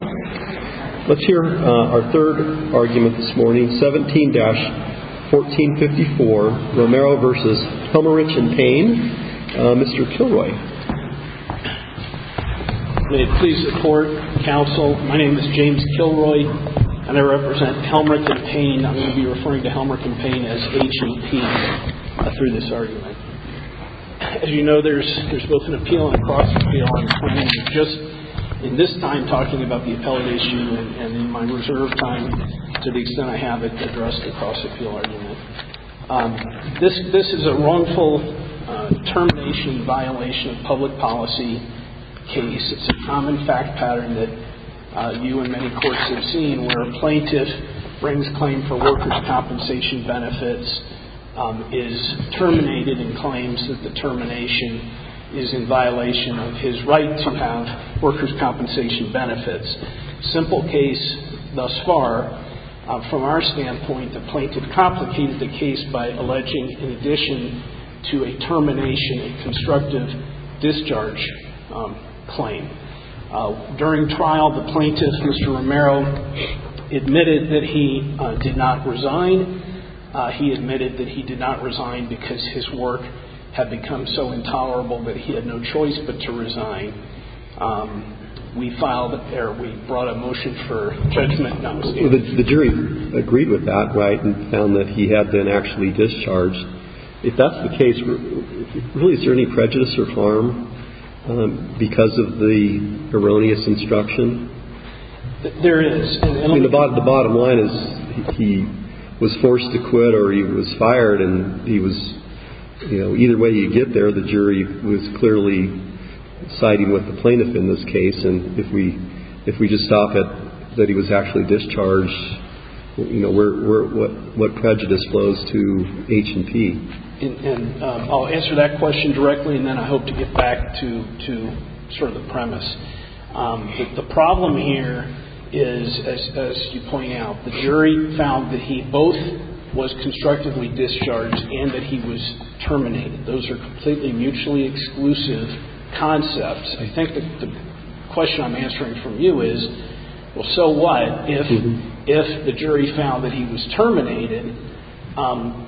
Let's hear our third argument this morning, 17-1454, Romero v. Helmerich & Payne. Mr. Kilroy. May it please the court, counsel, my name is James Kilroy and I represent Helmerich & Payne. I'm going to be referring to Helmerich & Payne as H&P through this argument. As you know, there's both an appeal and a cross-appeal argument. I'm just, in this time, talking about the appellate issue and in my reserve time, to the extent I have it, addressed a cross-appeal argument. This is a wrongful termination violation of public policy case. It's a common fact pattern that you and many courts have seen where a plaintiff brings claim for workers' compensation benefits, is terminated and claims that the termination is in violation of his right to have workers' compensation benefits. Simple case thus far. From our standpoint, the plaintiff complicated the case by alleging, in addition to a termination, a constructive discharge claim. During trial, the plaintiff, Mr. Romero, admitted that he did not resign. He admitted that he did not resign because his work had become so intolerable that he had no choice but to resign. We filed it there. We brought a motion for judgment. The jury agreed with that, right, and found that he had been actually discharged. If that's the case, really, is there any prejudice or harm because of the erroneous instruction? There is. I mean, the bottom line is he was forced to quit or he was fired, and he was, you know, either way you get there, the jury was clearly citing with the plaintiff in this case. And if we just stop it that he was actually discharged, you know, what prejudice flows to H&P? And I'll answer that question directly, and then I hope to get back to sort of the premise. The problem here is, as you point out, the jury found that he both was constructively discharged and that he was terminated. Those are completely mutually exclusive concepts. I think the question I'm answering from you is, well, so what? If the jury found that he was terminated,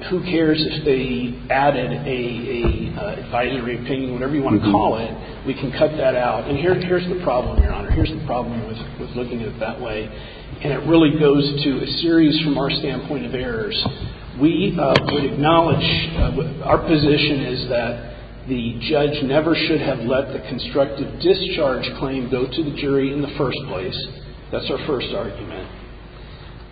who cares if they added a advisory opinion, whatever you want to call it. We can cut that out. And here's the problem, Your Honor. Here's the problem with looking at it that way. And it really goes to a series from our standpoint of errors. We would acknowledge our position is that the judge never should have let the constructive discharge claim go to the jury in the first place. That's our first argument.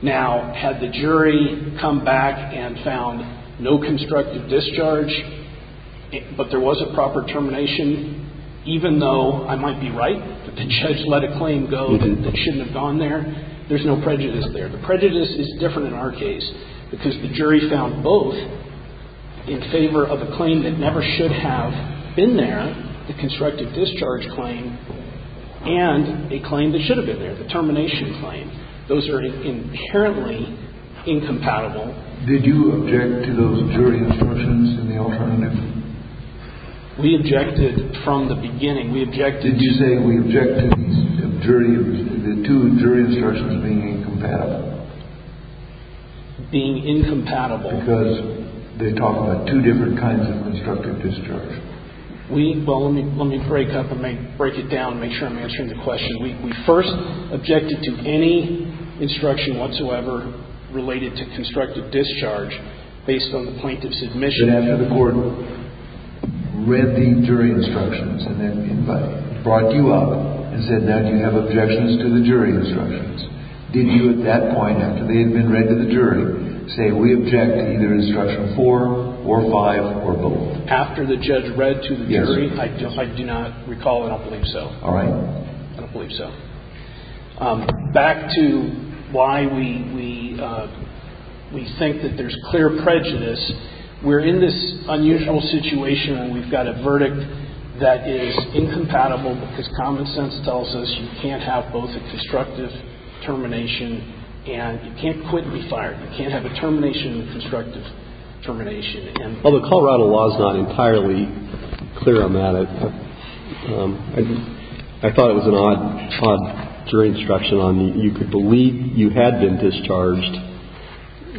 Now, had the jury come back and found no constructive discharge, but there was a proper termination, even though I might be right, that the judge let a claim go that shouldn't have gone there, there's no prejudice there. The prejudice is different in our case because the jury found both in favor of a claim that never should have been there, the constructive discharge claim, and a claim that should have been there, the termination claim. Those are inherently incompatible. Did you object to those jury instructions in the alternative? We objected from the beginning. We objected. Did you say we object to the two jury instructions being incompatible? Being incompatible. Because they talk about two different kinds of constructive discharge. Well, let me break it up and break it down and make sure I'm answering the question. We first objected to any instruction whatsoever related to constructive discharge based on the plaintiff's admission. But after the court read the jury instructions and then brought you up and said now you have objections to the jury instructions, did you at that point, after they had been read to the jury, say we object to either instruction four or five or both? After the judge read to the jury, I do not recall. I don't believe so. All right. I don't believe so. Back to why we think that there's clear prejudice. We're in this unusual situation and we've got a verdict that is incompatible because common sense tells us you can't have both a constructive termination and you can't quit and be fired. You can't have a termination and a constructive termination. Well, the Colorado law is not entirely clear on that. I thought it was an odd jury instruction on you could believe you had been discharged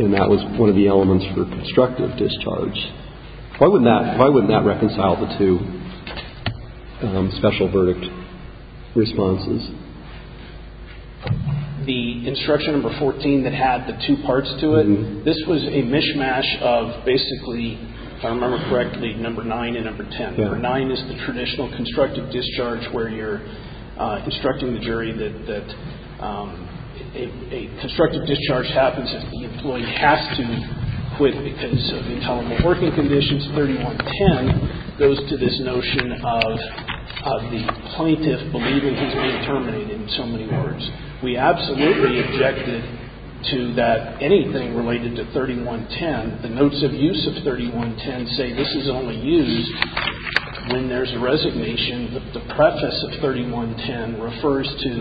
and that was one of the elements for constructive discharge. Why wouldn't that reconcile the two special verdict responses? The instruction number 14 that had the two parts to it, this was a mishmash of basically, if I remember correctly, number nine and number 10. Number nine is the traditional constructive discharge where you're instructing the jury that a constructive discharge happens if the employee has to quit because of intolerable working conditions. The use of 3110 goes to this notion of the plaintiff believing he's been terminated in so many words. We absolutely objected to that anything related to 3110. The notes of use of 3110 say this is only used when there is a resignation that the preface of 3110 refers to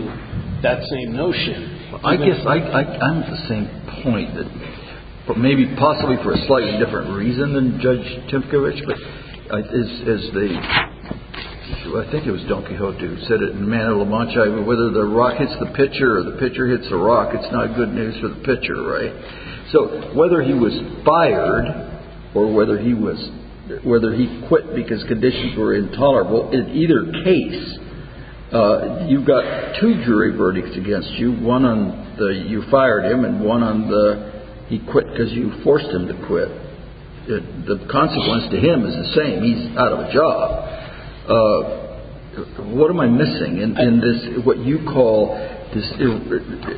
that same notion. I guess I'm at the same point that maybe possibly for a slightly different reason than Judge Timkovich. But as the I think it was Don Quixote who said it in Man of La Mancha, whether the rock hits the pitcher or the pitcher hits the rock, it's not good news for the pitcher. Right. So whether he was fired or whether he was whether he quit because conditions were intolerable in either case, you've got two jury verdicts against you, one on the you fired him and one on the he quit because you forced him to quit. The consequence to him is the same. He's out of a job. What am I missing in this what you call this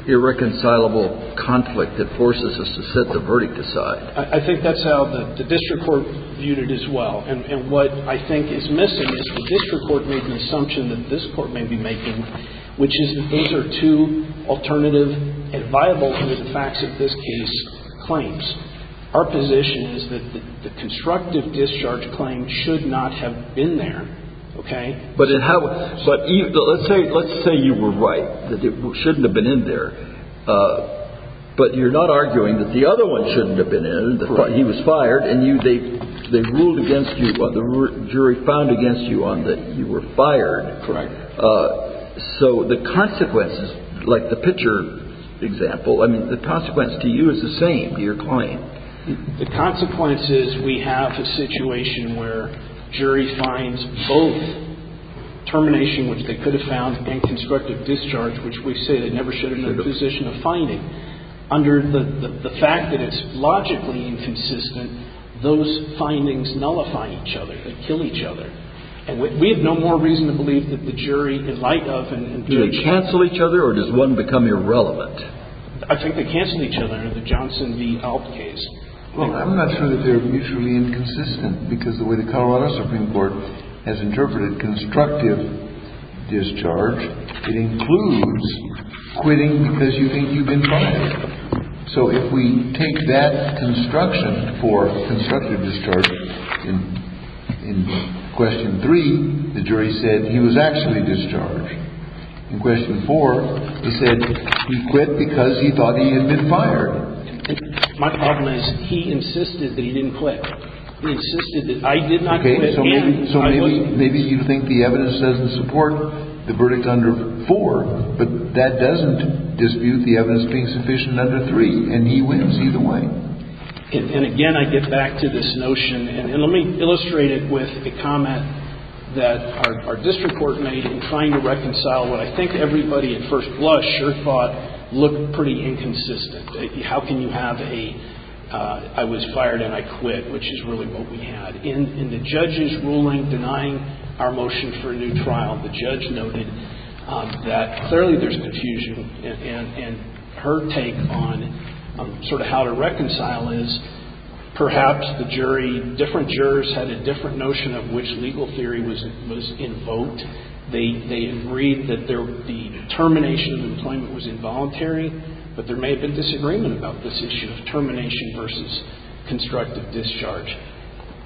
irreconcilable conflict that forces us to set the verdict aside? I think that's how the district court viewed it as well. And what I think is missing is the district court made an assumption that this court may be making, which is that these are two alternative and viable facts of this case claims. Our position is that the constructive discharge claim should not have been there. OK, but it has. But let's say let's say you were right that it shouldn't have been in there. But you're not arguing that the other one shouldn't have been in. He was fired and you they they ruled against you. Well, the jury found against you on that. You were fired. Correct. So the consequences like the pitcher example, I mean, the consequence to you is the same. Your claim, the consequences. We have a situation where jury finds both termination, which they could have found and constructive discharge, which we say they never should have been in a position of finding. Under the fact that it's logically inconsistent. Those findings nullify each other and kill each other. And we have no more reason to believe that the jury in light of and cancel each other or does one become irrelevant? I think they canceled each other in the Johnson v. Alp case. Well, I'm not sure that they're mutually inconsistent because the way the Colorado Supreme Court has interpreted constructive discharge. It includes quitting because you think you've been fired. So if we take that construction for constructive discharge in question three, the jury said he was actually discharged in question four. He said he quit because he thought he had been fired. My problem is he insisted that he didn't quit. He insisted that I did not. So maybe you think the evidence doesn't support the verdict under four, but that doesn't dispute the evidence being sufficient under three. And he wins either way. And again, I get back to this notion. And let me illustrate it with the comment that our district court made in trying to reconcile what I think everybody at first blush or thought looked pretty inconsistent. How can you have a I was fired and I quit, which is really what we had. In the judge's ruling denying our motion for a new trial, the judge noted that clearly there's confusion. And her take on sort of how to reconcile is perhaps the jury, different jurors, had a different notion of which legal theory was invoked. They agreed that the termination of employment was involuntary, but there may have been disagreement about this issue of termination versus constructive discharge.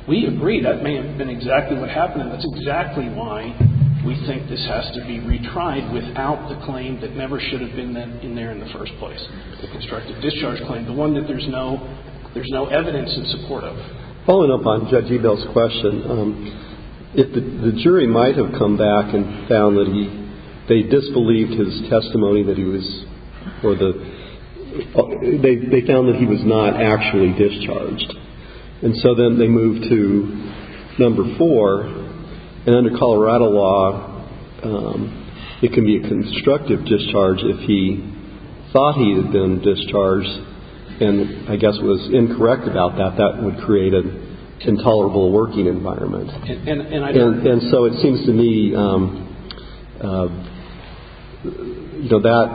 We agree that may have been exactly what happened. And that's exactly why we think this has to be retried without the claim that never should have been in there in the first place. The constructive discharge claim, the one that there's no there's no evidence in support of. Following up on Judge Ebel's question, if the jury might have come back and found that he they disbelieved his testimony, that he was for the they found that he was not actually discharged. And so then they moved to number four. And under Colorado law, it can be a constructive discharge if he thought he had been discharged and I guess was incorrect about that. That would create an intolerable working environment. And so it seems to me that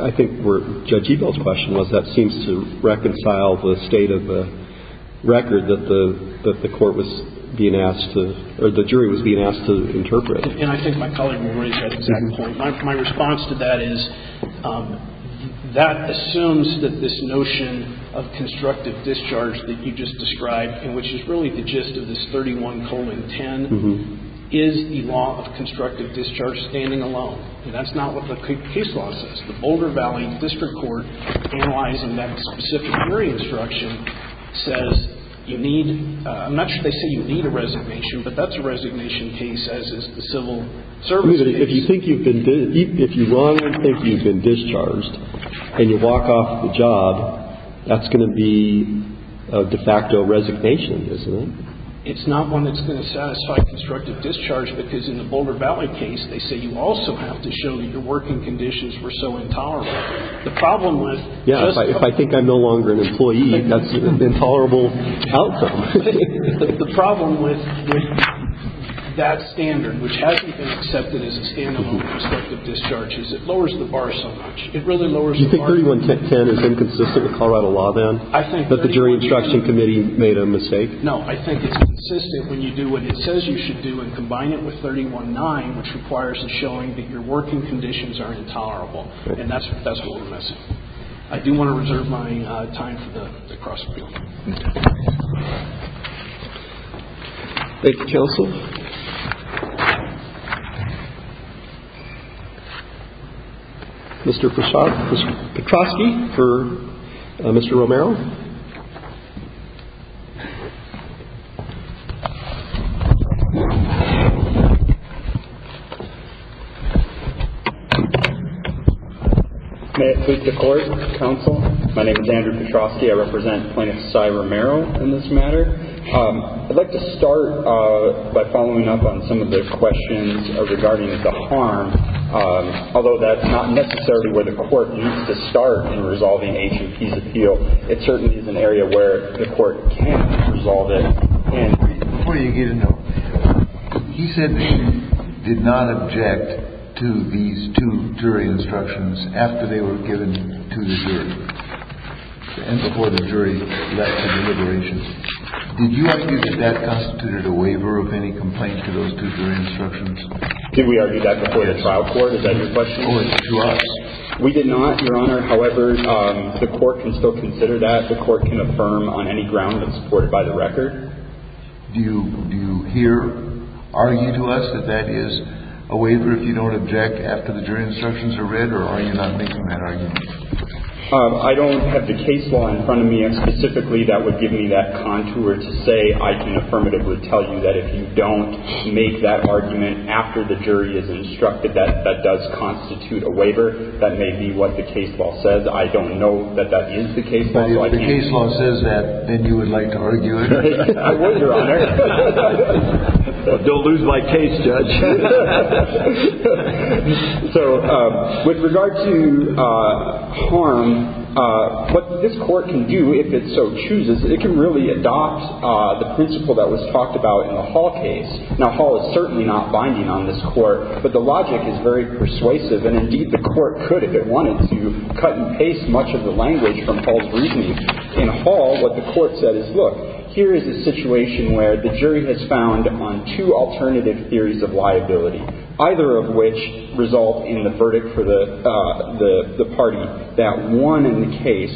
I think where Judge Ebel's question was, that seems to reconcile the state of the record that the that the court was being asked to or the jury was being asked to interpret. And I think my colleague will raise that exact point. My response to that is that assumes that this notion of constructive discharge that you just described and which is really the gist of this 31 colon 10 is the law of constructive discharge standing alone. And that's not what the case law says. It's not one that's going to satisfy constructive discharge because in the Boulder Valley case, they say you also have to show that your working conditions were so intolerable that you had to resign. The problem with. Yeah. If I think I'm no longer an employee, that's an intolerable outcome. The problem with that standard, which hasn't been accepted as a standard of constructive discharges, it lowers the bar so much. It really lowers the 31 10 is inconsistent with Colorado law. Then I think that the jury instruction committee made a mistake. No, I think it's consistent when you do what it says you should do and combine it with 31 nine, which requires a showing that your working conditions are intolerable. And that's that's what we're missing. I do want to reserve my time for the cross. Thank you, counsel. Mr. May it please the court. Counsel. My name is Andrew Petrosky. I represent plaintiff's side. Romero in this matter. I'd like to start by following up on some of the questions regarding the harm. Although that's not necessarily where the court needs to start in resolving a peace appeal. It certainly is an area where the court can't resolve it. And he said he did not object to these two jury instructions after they were given to the jury and before the jury deliberations. Did you argue that that constituted a waiver of any complaint to those two jury instructions? Did we argue that before the trial court? Is that your question? We did not, Your Honor. However, the court can still consider that the court can affirm on any ground that supported by the record. Do you do you hear argue to us that that is a waiver if you don't object after the jury instructions are read or are you not making that argument? I don't have the case law in front of me. And specifically, that would give me that contour to say I can affirmatively tell you that if you don't make that argument after the jury is instructed, that that does constitute a waiver. That may be what the case law says. I don't know that that is the case law. If the case law says that, then you would like to argue it. I would, Your Honor. Don't lose my case, Judge. So with regard to harm, what this court can do if it so chooses, it can really adopt the principle that was talked about in the Hall case. Now, Hall is certainly not binding on this court, but the logic is very persuasive. And, indeed, the court could, if it wanted to, cut and paste much of the language from Hall's reasoning. In Hall, what the court said is, look, here is a situation where the jury has found on two alternative theories of liability, either of which result in the verdict for the party that won in the case.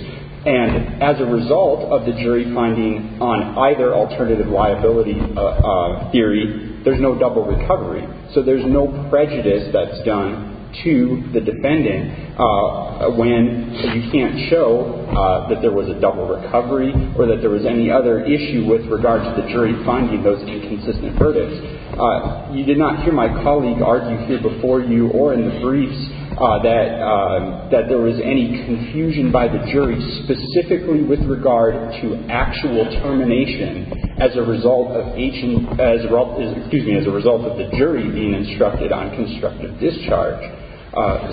And as a result of the jury finding on either alternative liability theory, there's no double recovery. So there's no prejudice that's done to the defendant when you can't show that there was a double recovery or that there was any other issue with regard to the jury finding those inconsistent verdicts. You did not hear my colleague argue here before you or in the briefs that there was any confusion by the jury specifically with regard to actual termination as a result of the jury being instructed on constructive discharge.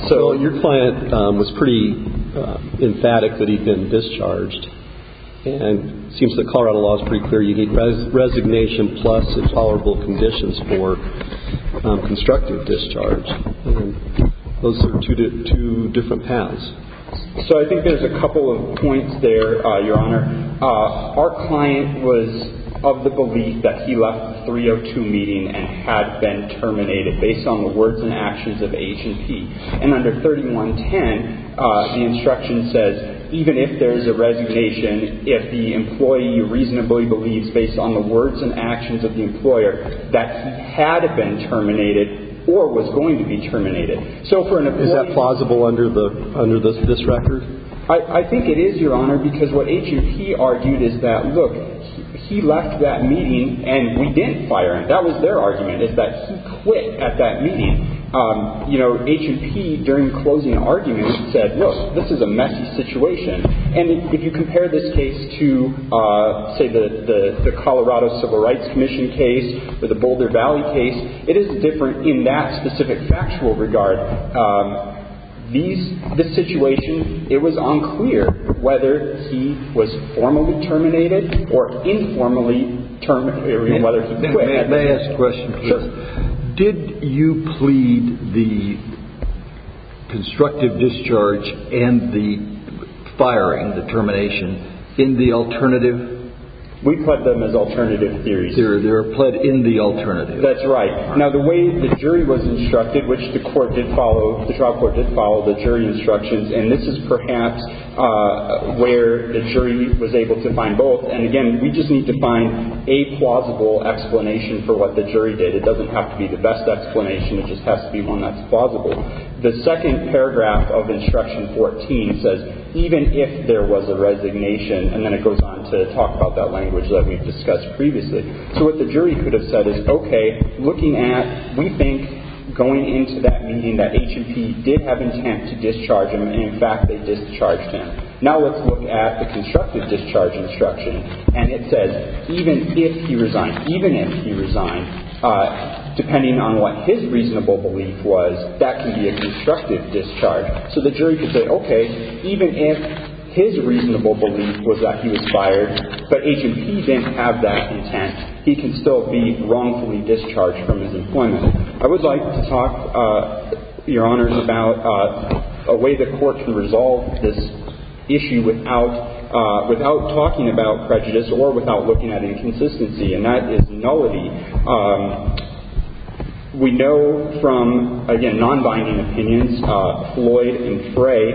So your client was pretty emphatic that he'd been discharged. And it seems the Colorado law is pretty clear. You need resignation plus intolerable conditions for constructive discharge. Those are two different paths. So I think there's a couple of points there, Your Honor. Our client was of the belief that he left the 302 meeting and had been terminated based on the words and actions of H&P. And under 3110, the instruction says, even if there is a resignation, if the employee reasonably believes, based on the words and actions of the employer, that he had been terminated or was going to be terminated. So for an employee... Is that plausible under this record? I think it is, Your Honor, because what H&P argued is that, look, he left that meeting and we didn't fire him. That was their argument, is that he quit at that meeting. You know, H&P, during closing arguments, said, look, this is a messy situation. And if you compare this case to, say, the Colorado Civil Rights Commission case or the Boulder Valley case, it is different in that specific factual regard. This situation, it was unclear whether he was formally terminated or informally terminated. May I ask a question, please? Sure. Did you plead the constructive discharge and the firing, the termination, in the alternative? We pled them as alternative theories. They were pled in the alternative. That's right. Now, the way the jury was instructed, which the court did follow, the trial court did follow the jury instructions, and this is perhaps where the jury was able to find both. And, again, we just need to find a plausible explanation for what the jury did. It doesn't have to be the best explanation. It just has to be one that's plausible. The second paragraph of Instruction 14 says, even if there was a resignation, and then it goes on to talk about that language that we've discussed previously. So what the jury could have said is, okay, looking at, we think going into that meeting that H&P did have intent to discharge him, and, in fact, they discharged him. Now let's look at the constructive discharge instruction, and it says, even if he resigned, even if he resigned, depending on what his reasonable belief was, that can be a constructive discharge. So the jury could say, okay, even if his reasonable belief was that he was fired, but H&P didn't have that intent, he can still be wrongfully discharged from his employment. I would like to talk, Your Honors, about a way the Court can resolve this issue without talking about prejudice or without looking at inconsistency, and that is nullity. We know from, again, non-binding opinions, Floyd and Frey,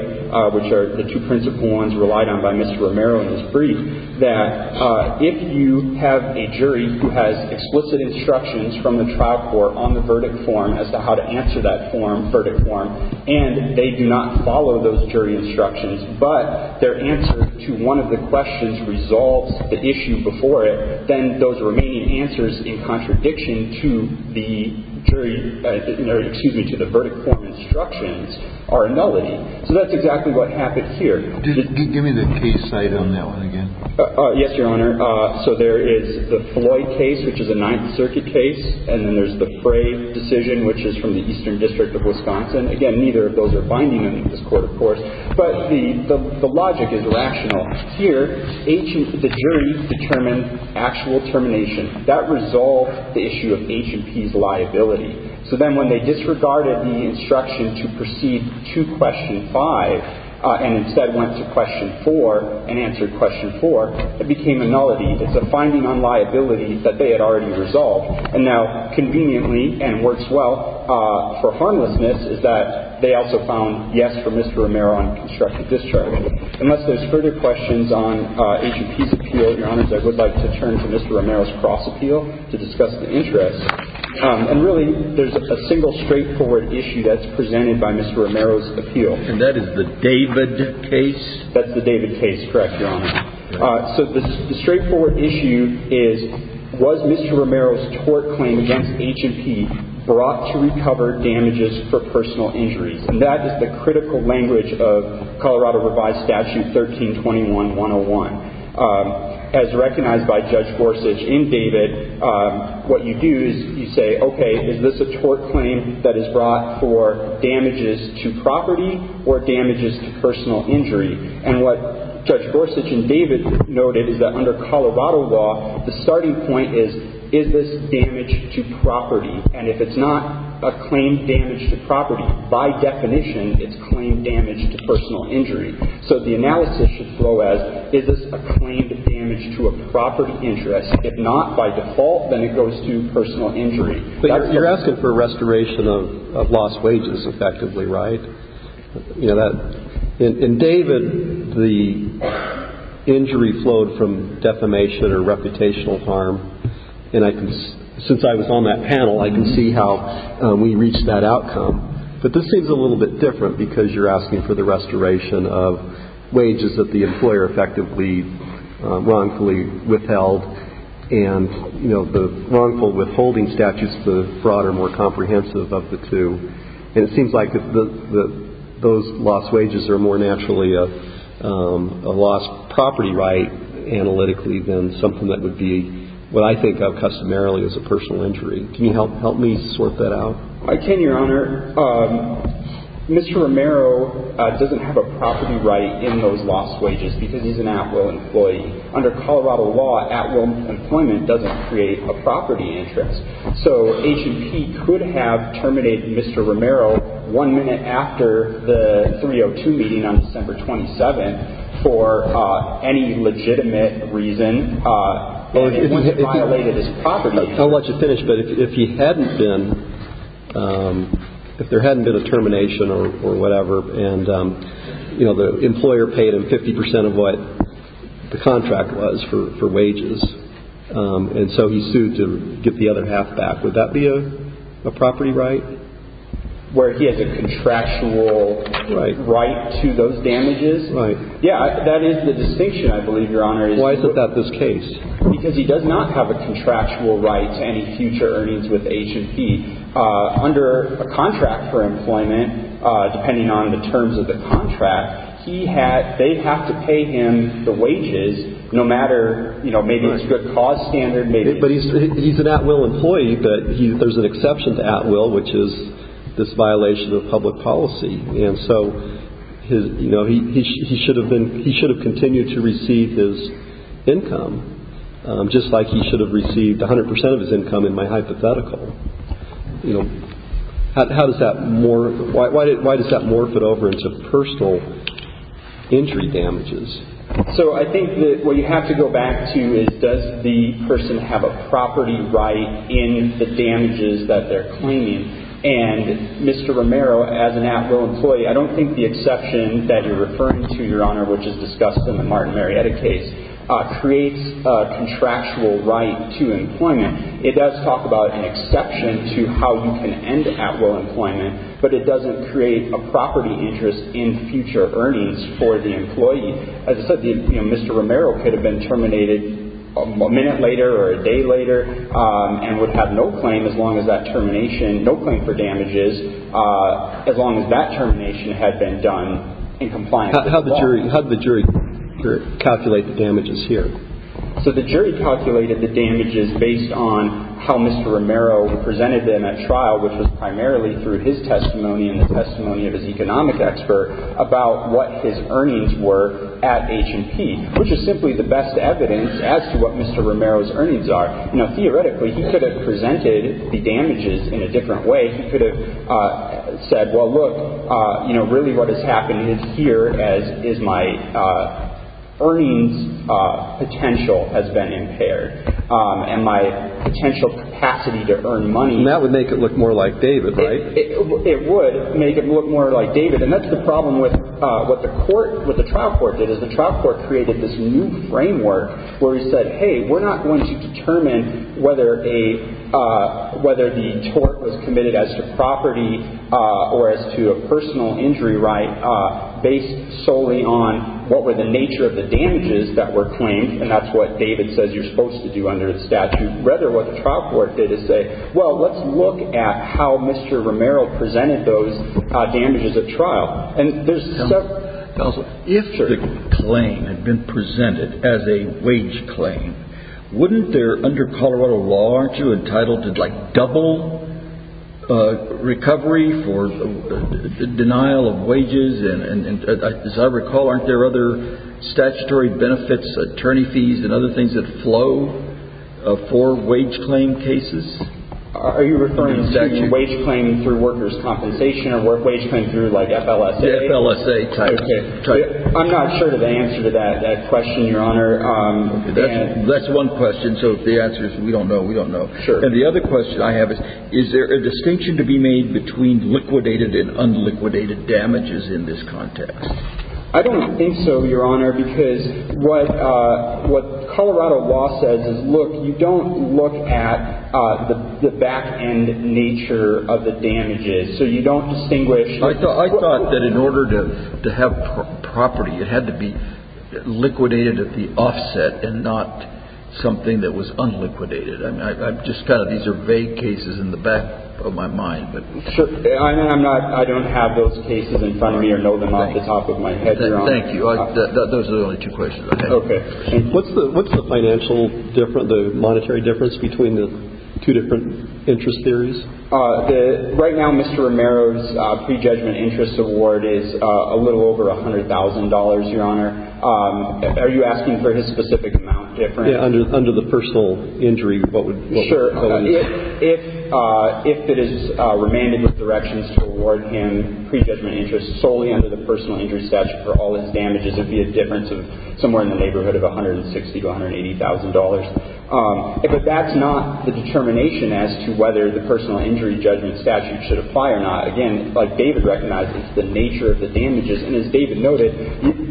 which are the two principal ones relied on by Mr. Romero in his brief, that if you have a jury who has explicit instructions from the trial court on the verdict form as to how to answer that form, verdict form, and they do not follow those jury instructions, but their answer to one of the questions resolves the issue before it, then those remaining answers in contradiction to the verdict form instructions are nullity. So that's exactly what happened here. Give me the case side on that one again. Yes, Your Honor. So there is the Floyd case, which is a Ninth Circuit case, and then there's the Frey decision, which is from the Eastern District of Wisconsin. Again, neither of those are binding in this court, of course. But the logic is rational. Here, the jury determined actual termination. That resolved the issue of H&P's liability. So then when they disregarded the instruction to proceed to question 5 and instead went to question 4 and answered question 4, it became a nullity. It's a finding on liability that they had already resolved. And now conveniently, and works well for harmlessness, is that they also found yes for Mr. Romero on constructive discharge. Unless there's further questions on H&P's appeal, Your Honors, I would like to turn to Mr. Romero's cross appeal to discuss the interest. And really, there's a single straightforward issue that's presented by Mr. Romero's appeal. And that is the David case? That's the David case, correct, Your Honor. So the straightforward issue is, was Mr. Romero's tort claim against H&P brought to recover damages for personal injuries? And that is the critical language of Colorado revised statute 1321-101. As recognized by Judge Gorsuch in David, what you do is you say, okay, is this a tort claim that is brought for damages to property or damages to personal injury? And what Judge Gorsuch in David noted is that under Colorado law, the starting point is, is this damage to property? And if it's not a claim damage to property, by definition, it's claim damage to personal injury. So the analysis should flow as, is this a claim damage to a property interest? If not, by default, then it goes to personal injury. But you're asking for restoration of lost wages, effectively, right? In David, the injury flowed from defamation or reputational harm. And since I was on that panel, I can see how we reached that outcome. But this seems a little bit different because you're asking for the restoration of wages that the employer effectively wrongfully withheld. And, you know, the wrongful withholding statute is the broader, more comprehensive of the two. And it seems like those lost wages are more naturally a lost property right analytically than something that would be what I think of customarily as a personal injury. Can you help me sort that out? I can, Your Honor. Mr. Romero doesn't have a property right in those lost wages because he's an at-will employee. Under Colorado law, at-will employment doesn't create a property interest. So H&P could have terminated Mr. Romero one minute after the 302 meeting on December 27th for any legitimate reason, and it violated his property. I'll let you finish. But if he hadn't been, if there hadn't been a termination or whatever, and, you know, the employer paid him 50% of what the contract was for wages, and so he sued to get the other half back, would that be a property right? Where he has a contractual right to those damages. Right. Yeah, that is the distinction, I believe, Your Honor. Why is that this case? Because he does not have a contractual right to any future earnings with H&P. Under a contract for employment, depending on the terms of the contract, he had, they have to pay him the wages no matter, you know, maybe it's good cost standard, maybe But he's an at-will employee, but there's an exception to at-will, which is this violation of public policy. And so, you know, he should have been, he should have continued to receive his income, just like he should have received 100% of his income in my hypothetical. You know, how does that, why does that morph it over into personal injury damages? So I think that what you have to go back to is does the person have a property right in the damages that they're claiming? And Mr. Romero, as an at-will employee, I don't think the exception that you're referring to, Your Honor, which is discussed in the Martin Marietta case, creates a contractual right to employment. It does talk about an exception to how you can end at-will employment, but it doesn't create a property interest in future earnings for the employee. As I said, you know, Mr. Romero could have been terminated a minute later or a day later and would have no claim as long as that termination, no claim for damages as long as that termination had been done in compliance with the law. How did the jury calculate the damages here? So the jury calculated the damages based on how Mr. Romero presented them at trial, which was primarily through his testimony and the testimony of his economic expert about what his earnings were at H&P, which is simply the best evidence as to what Mr. Romero's earnings are. Now, theoretically, he could have presented the damages in a different way. He could have said, well, look, you know, really what has happened here is my earnings potential has been impaired and my potential capacity to earn money. And that would make it look more like David, right? It would make it look more like David. And that's the problem with what the court, what the trial court did is the trial court created this new framework where he said, hey, we're not going to determine whether the tort was committed as to property or as to a personal injury right based solely on what were the nature of the damages that were claimed, and that's what David says you're supposed to do under the statute. Rather, what the trial court did is say, well, let's look at how Mr. Romero presented those damages at trial. Counsel, if the claim had been presented as a wage claim, wouldn't there, under Colorado law, aren't you entitled to, like, double recovery for denial of wages? And as I recall, aren't there other statutory benefits, attorney fees, and other things that flow for wage claim cases? Are you referring to wage claim through workers' compensation or wage claim through, like, FLSA? FLSA type. I'm not sure of the answer to that question, Your Honor. That's one question, so if the answer is we don't know, we don't know. Sure. And the other question I have is, is there a distinction to be made between liquidated and unliquidated damages in this context? I don't think so, Your Honor, because what Colorado law says is, look, you don't look at the back-end nature of the damages, so you don't distinguish. I thought that in order to have property, it had to be liquidated at the offset and not something that was unliquidated. I'm just kind of, these are vague cases in the back of my mind. Sure. I don't have those cases in front of me or know them off the top of my head, Your Honor. Thank you. Those are the only two questions. Okay. Okay. What's the financial difference, the monetary difference between the two different interest theories? Right now, Mr. Romero's pre-judgment interest award is a little over $100,000, Your Honor. Are you asking for his specific amount difference? Yeah, under the personal injury, what would that be? Sure. If it is remanded with directions to award him pre-judgment interest solely under the $160,000 to $180,000. But that's not the determination as to whether the personal injury judgment statute should apply or not. Again, like David recognized, it's the nature of the damages. And as David noted,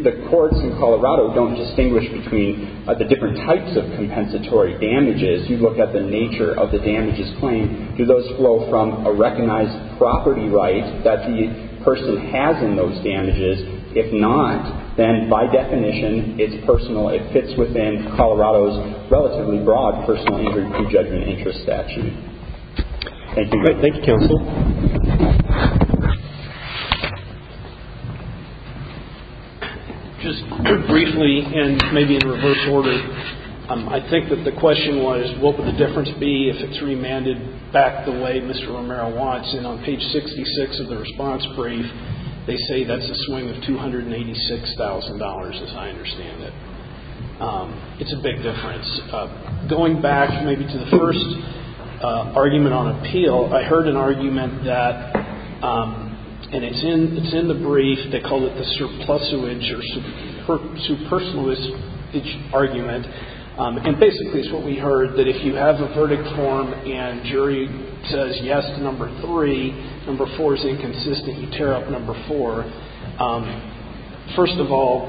the courts in Colorado don't distinguish between the different types of compensatory damages. You look at the nature of the damages claimed. Do those flow from a recognized property right that the person has in those damages? If not, then by definition, it's personal. It fits within Colorado's relatively broad personal injury pre-judgment interest statute. Thank you. Great. Thank you, counsel. Just briefly, and maybe in reverse order, I think that the question was, what would the difference be if it's remanded back the way Mr. Romero wants? And on page 66 of the response brief, they say that's a swing of $286,000, as I understand it. It's a big difference. Going back maybe to the first argument on appeal, I heard an argument that, and it's in the brief, they call it the surplusuage or superfluous argument. And basically, it's what we heard, that if you have a verdict form and jury says yes to number three, number four is inconsistent, you tear up number four. First of all,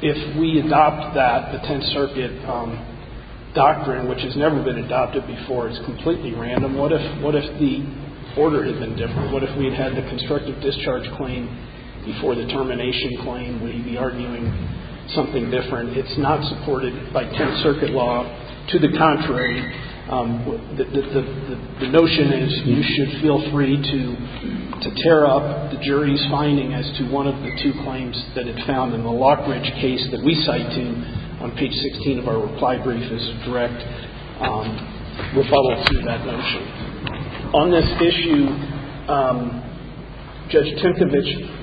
if we adopt that, the Tenth Circuit doctrine, which has never been adopted before, it's completely random, what if the order had been different? What if we had had the constructive discharge claim before the termination claim? Would you be arguing something different? It's not supported by Tenth Circuit law. To the contrary, the notion is you should feel free to tear up the jury's finding as to one of the two claims that it found in the Lock Branch case that we cited on page 16 of our reply brief as direct rebuttals to that notion. On this issue, Judge Tinkovich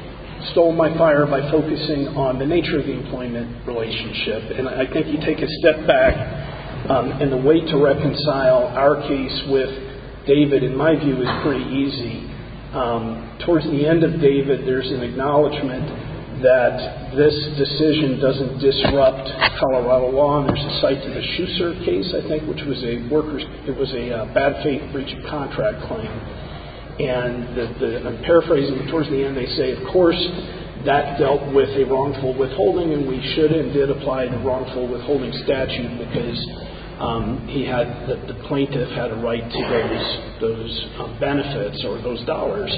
stole my fire by focusing on the nature of the employment relationship. And I think you take a step back, and the way to reconcile our case with David, in my view, is pretty easy. Towards the end of David, there's an acknowledgment that this decision doesn't disrupt Colorado law, and there's a cite to the Schusser case, I think, which was a workers' – it was a bad faith breach of contract claim. And I'm paraphrasing. Towards the end, they say, of course, that dealt with a wrongful withholding, we should and did apply the wrongful withholding statute because he had – the plaintiff had a right to those benefits or those dollars.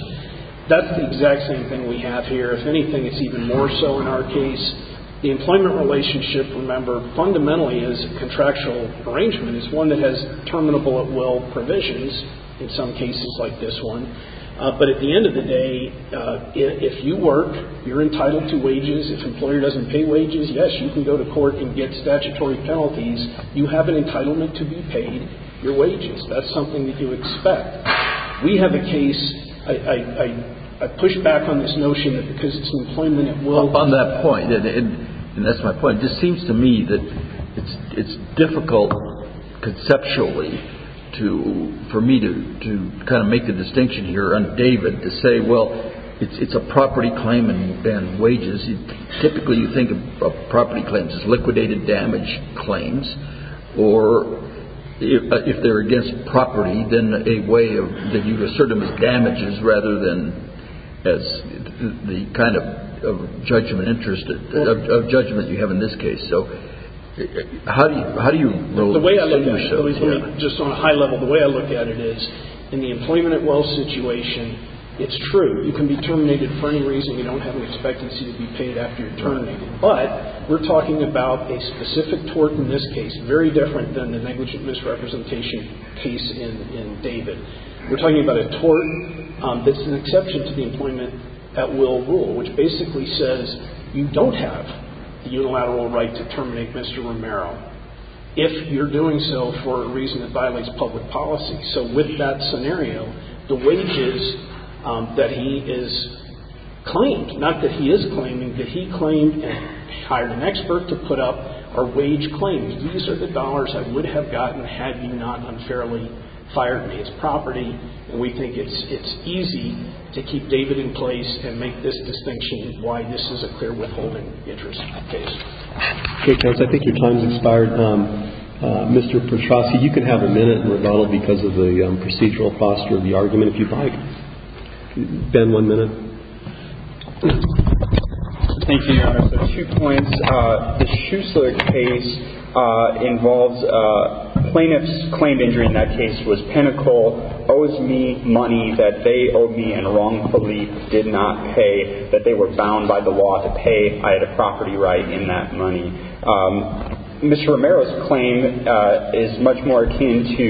That's the exact same thing we have here. If anything, it's even more so in our case. The employment relationship, remember, fundamentally is a contractual arrangement. It's one that has terminable at will provisions in some cases like this one. But at the end of the day, if you work, you're entitled to wages. If an employer doesn't pay wages, yes, you can go to court and get statutory penalties. You have an entitlement to be paid your wages. That's something that you expect. We have a case – I push back on this notion that because it's employment, it will – On that point, and that's my point, it just seems to me that it's difficult conceptually to – for me to kind of make a distinction here on David to say, well, it's a property claim and wages. Typically, you think of property claims as liquidated damage claims or if they're against property, then a way of – that you assert them as damages rather than as the kind of judgment interest – of judgment you have in this case. So how do you – how do you – The way I look at it, just on a high level, the way I look at it is in the employment at will situation, it's true. You can be terminated for any reason. You don't have an expectancy to be paid after you're terminated. But we're talking about a specific tort in this case, very different than the negligent misrepresentation case in David. We're talking about a tort that's an exception to the employment at will rule, which basically says you don't have the unilateral right to terminate Mr. Romero if you're doing so for a reason that violates public policy. So with that scenario, the wages that he is claimed – not that he is claiming, but he claimed and hired an expert to put up are wage claims. These are the dollars I would have gotten had you not unfairly fired me. It's property, and we think it's easy to keep David in place and make this distinction why this is a clear withholding interest in that case. Okay, counsel, I think your time has expired. Mr. Petrosi, you can have a minute and rebuttal because of the procedural posture of the argument if you'd like. Ben, one minute. Thank you, Your Honor. So two points. The Schuessler case involves plaintiff's claimed injury in that case was pinnacle, owes me money that they owed me and wrongfully did not pay, that they were bound by the law to pay. I had a property right in that money. Mr. Romero's claim is much more akin to,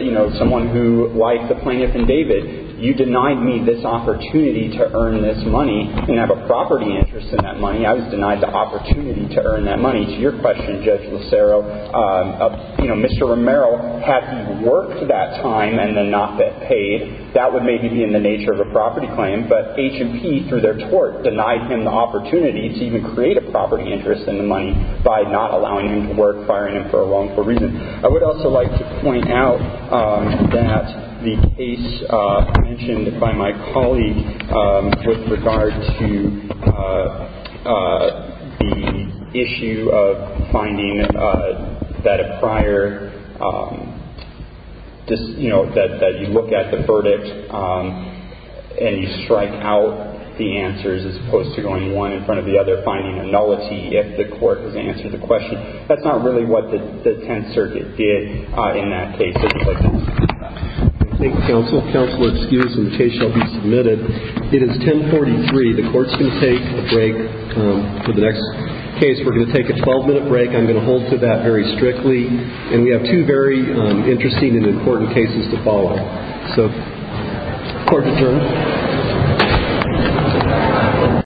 you know, someone who, like the plaintiff and David, you denied me this opportunity to earn this money and have a property interest in that money. I was denied the opportunity to earn that money. To your question, Judge Lucero, you know, Mr. Romero had worked that time and then not been paid. That would maybe be in the nature of a property claim. But H&P, through their tort, denied him the opportunity to even create a property interest in the money by not allowing him to work, firing him for a wrongful reason. I would also like to point out that the case mentioned by my colleague with regard to the issue of finding that a prior, just, you know, that you look at the verdict and you strike out the answers as opposed to going one in front of the other, finding a nullity if the court has answered the question. That's not really what the Tenth Circuit did in that case, if you look at it. Thank you, counsel. Counselor, excuse me. The case shall be submitted. It is 1043. The court's going to take a break for the next case. We're going to take a 12-minute break. I'm going to hold to that very strictly. And we have two very interesting and important cases to follow. So, court adjourned.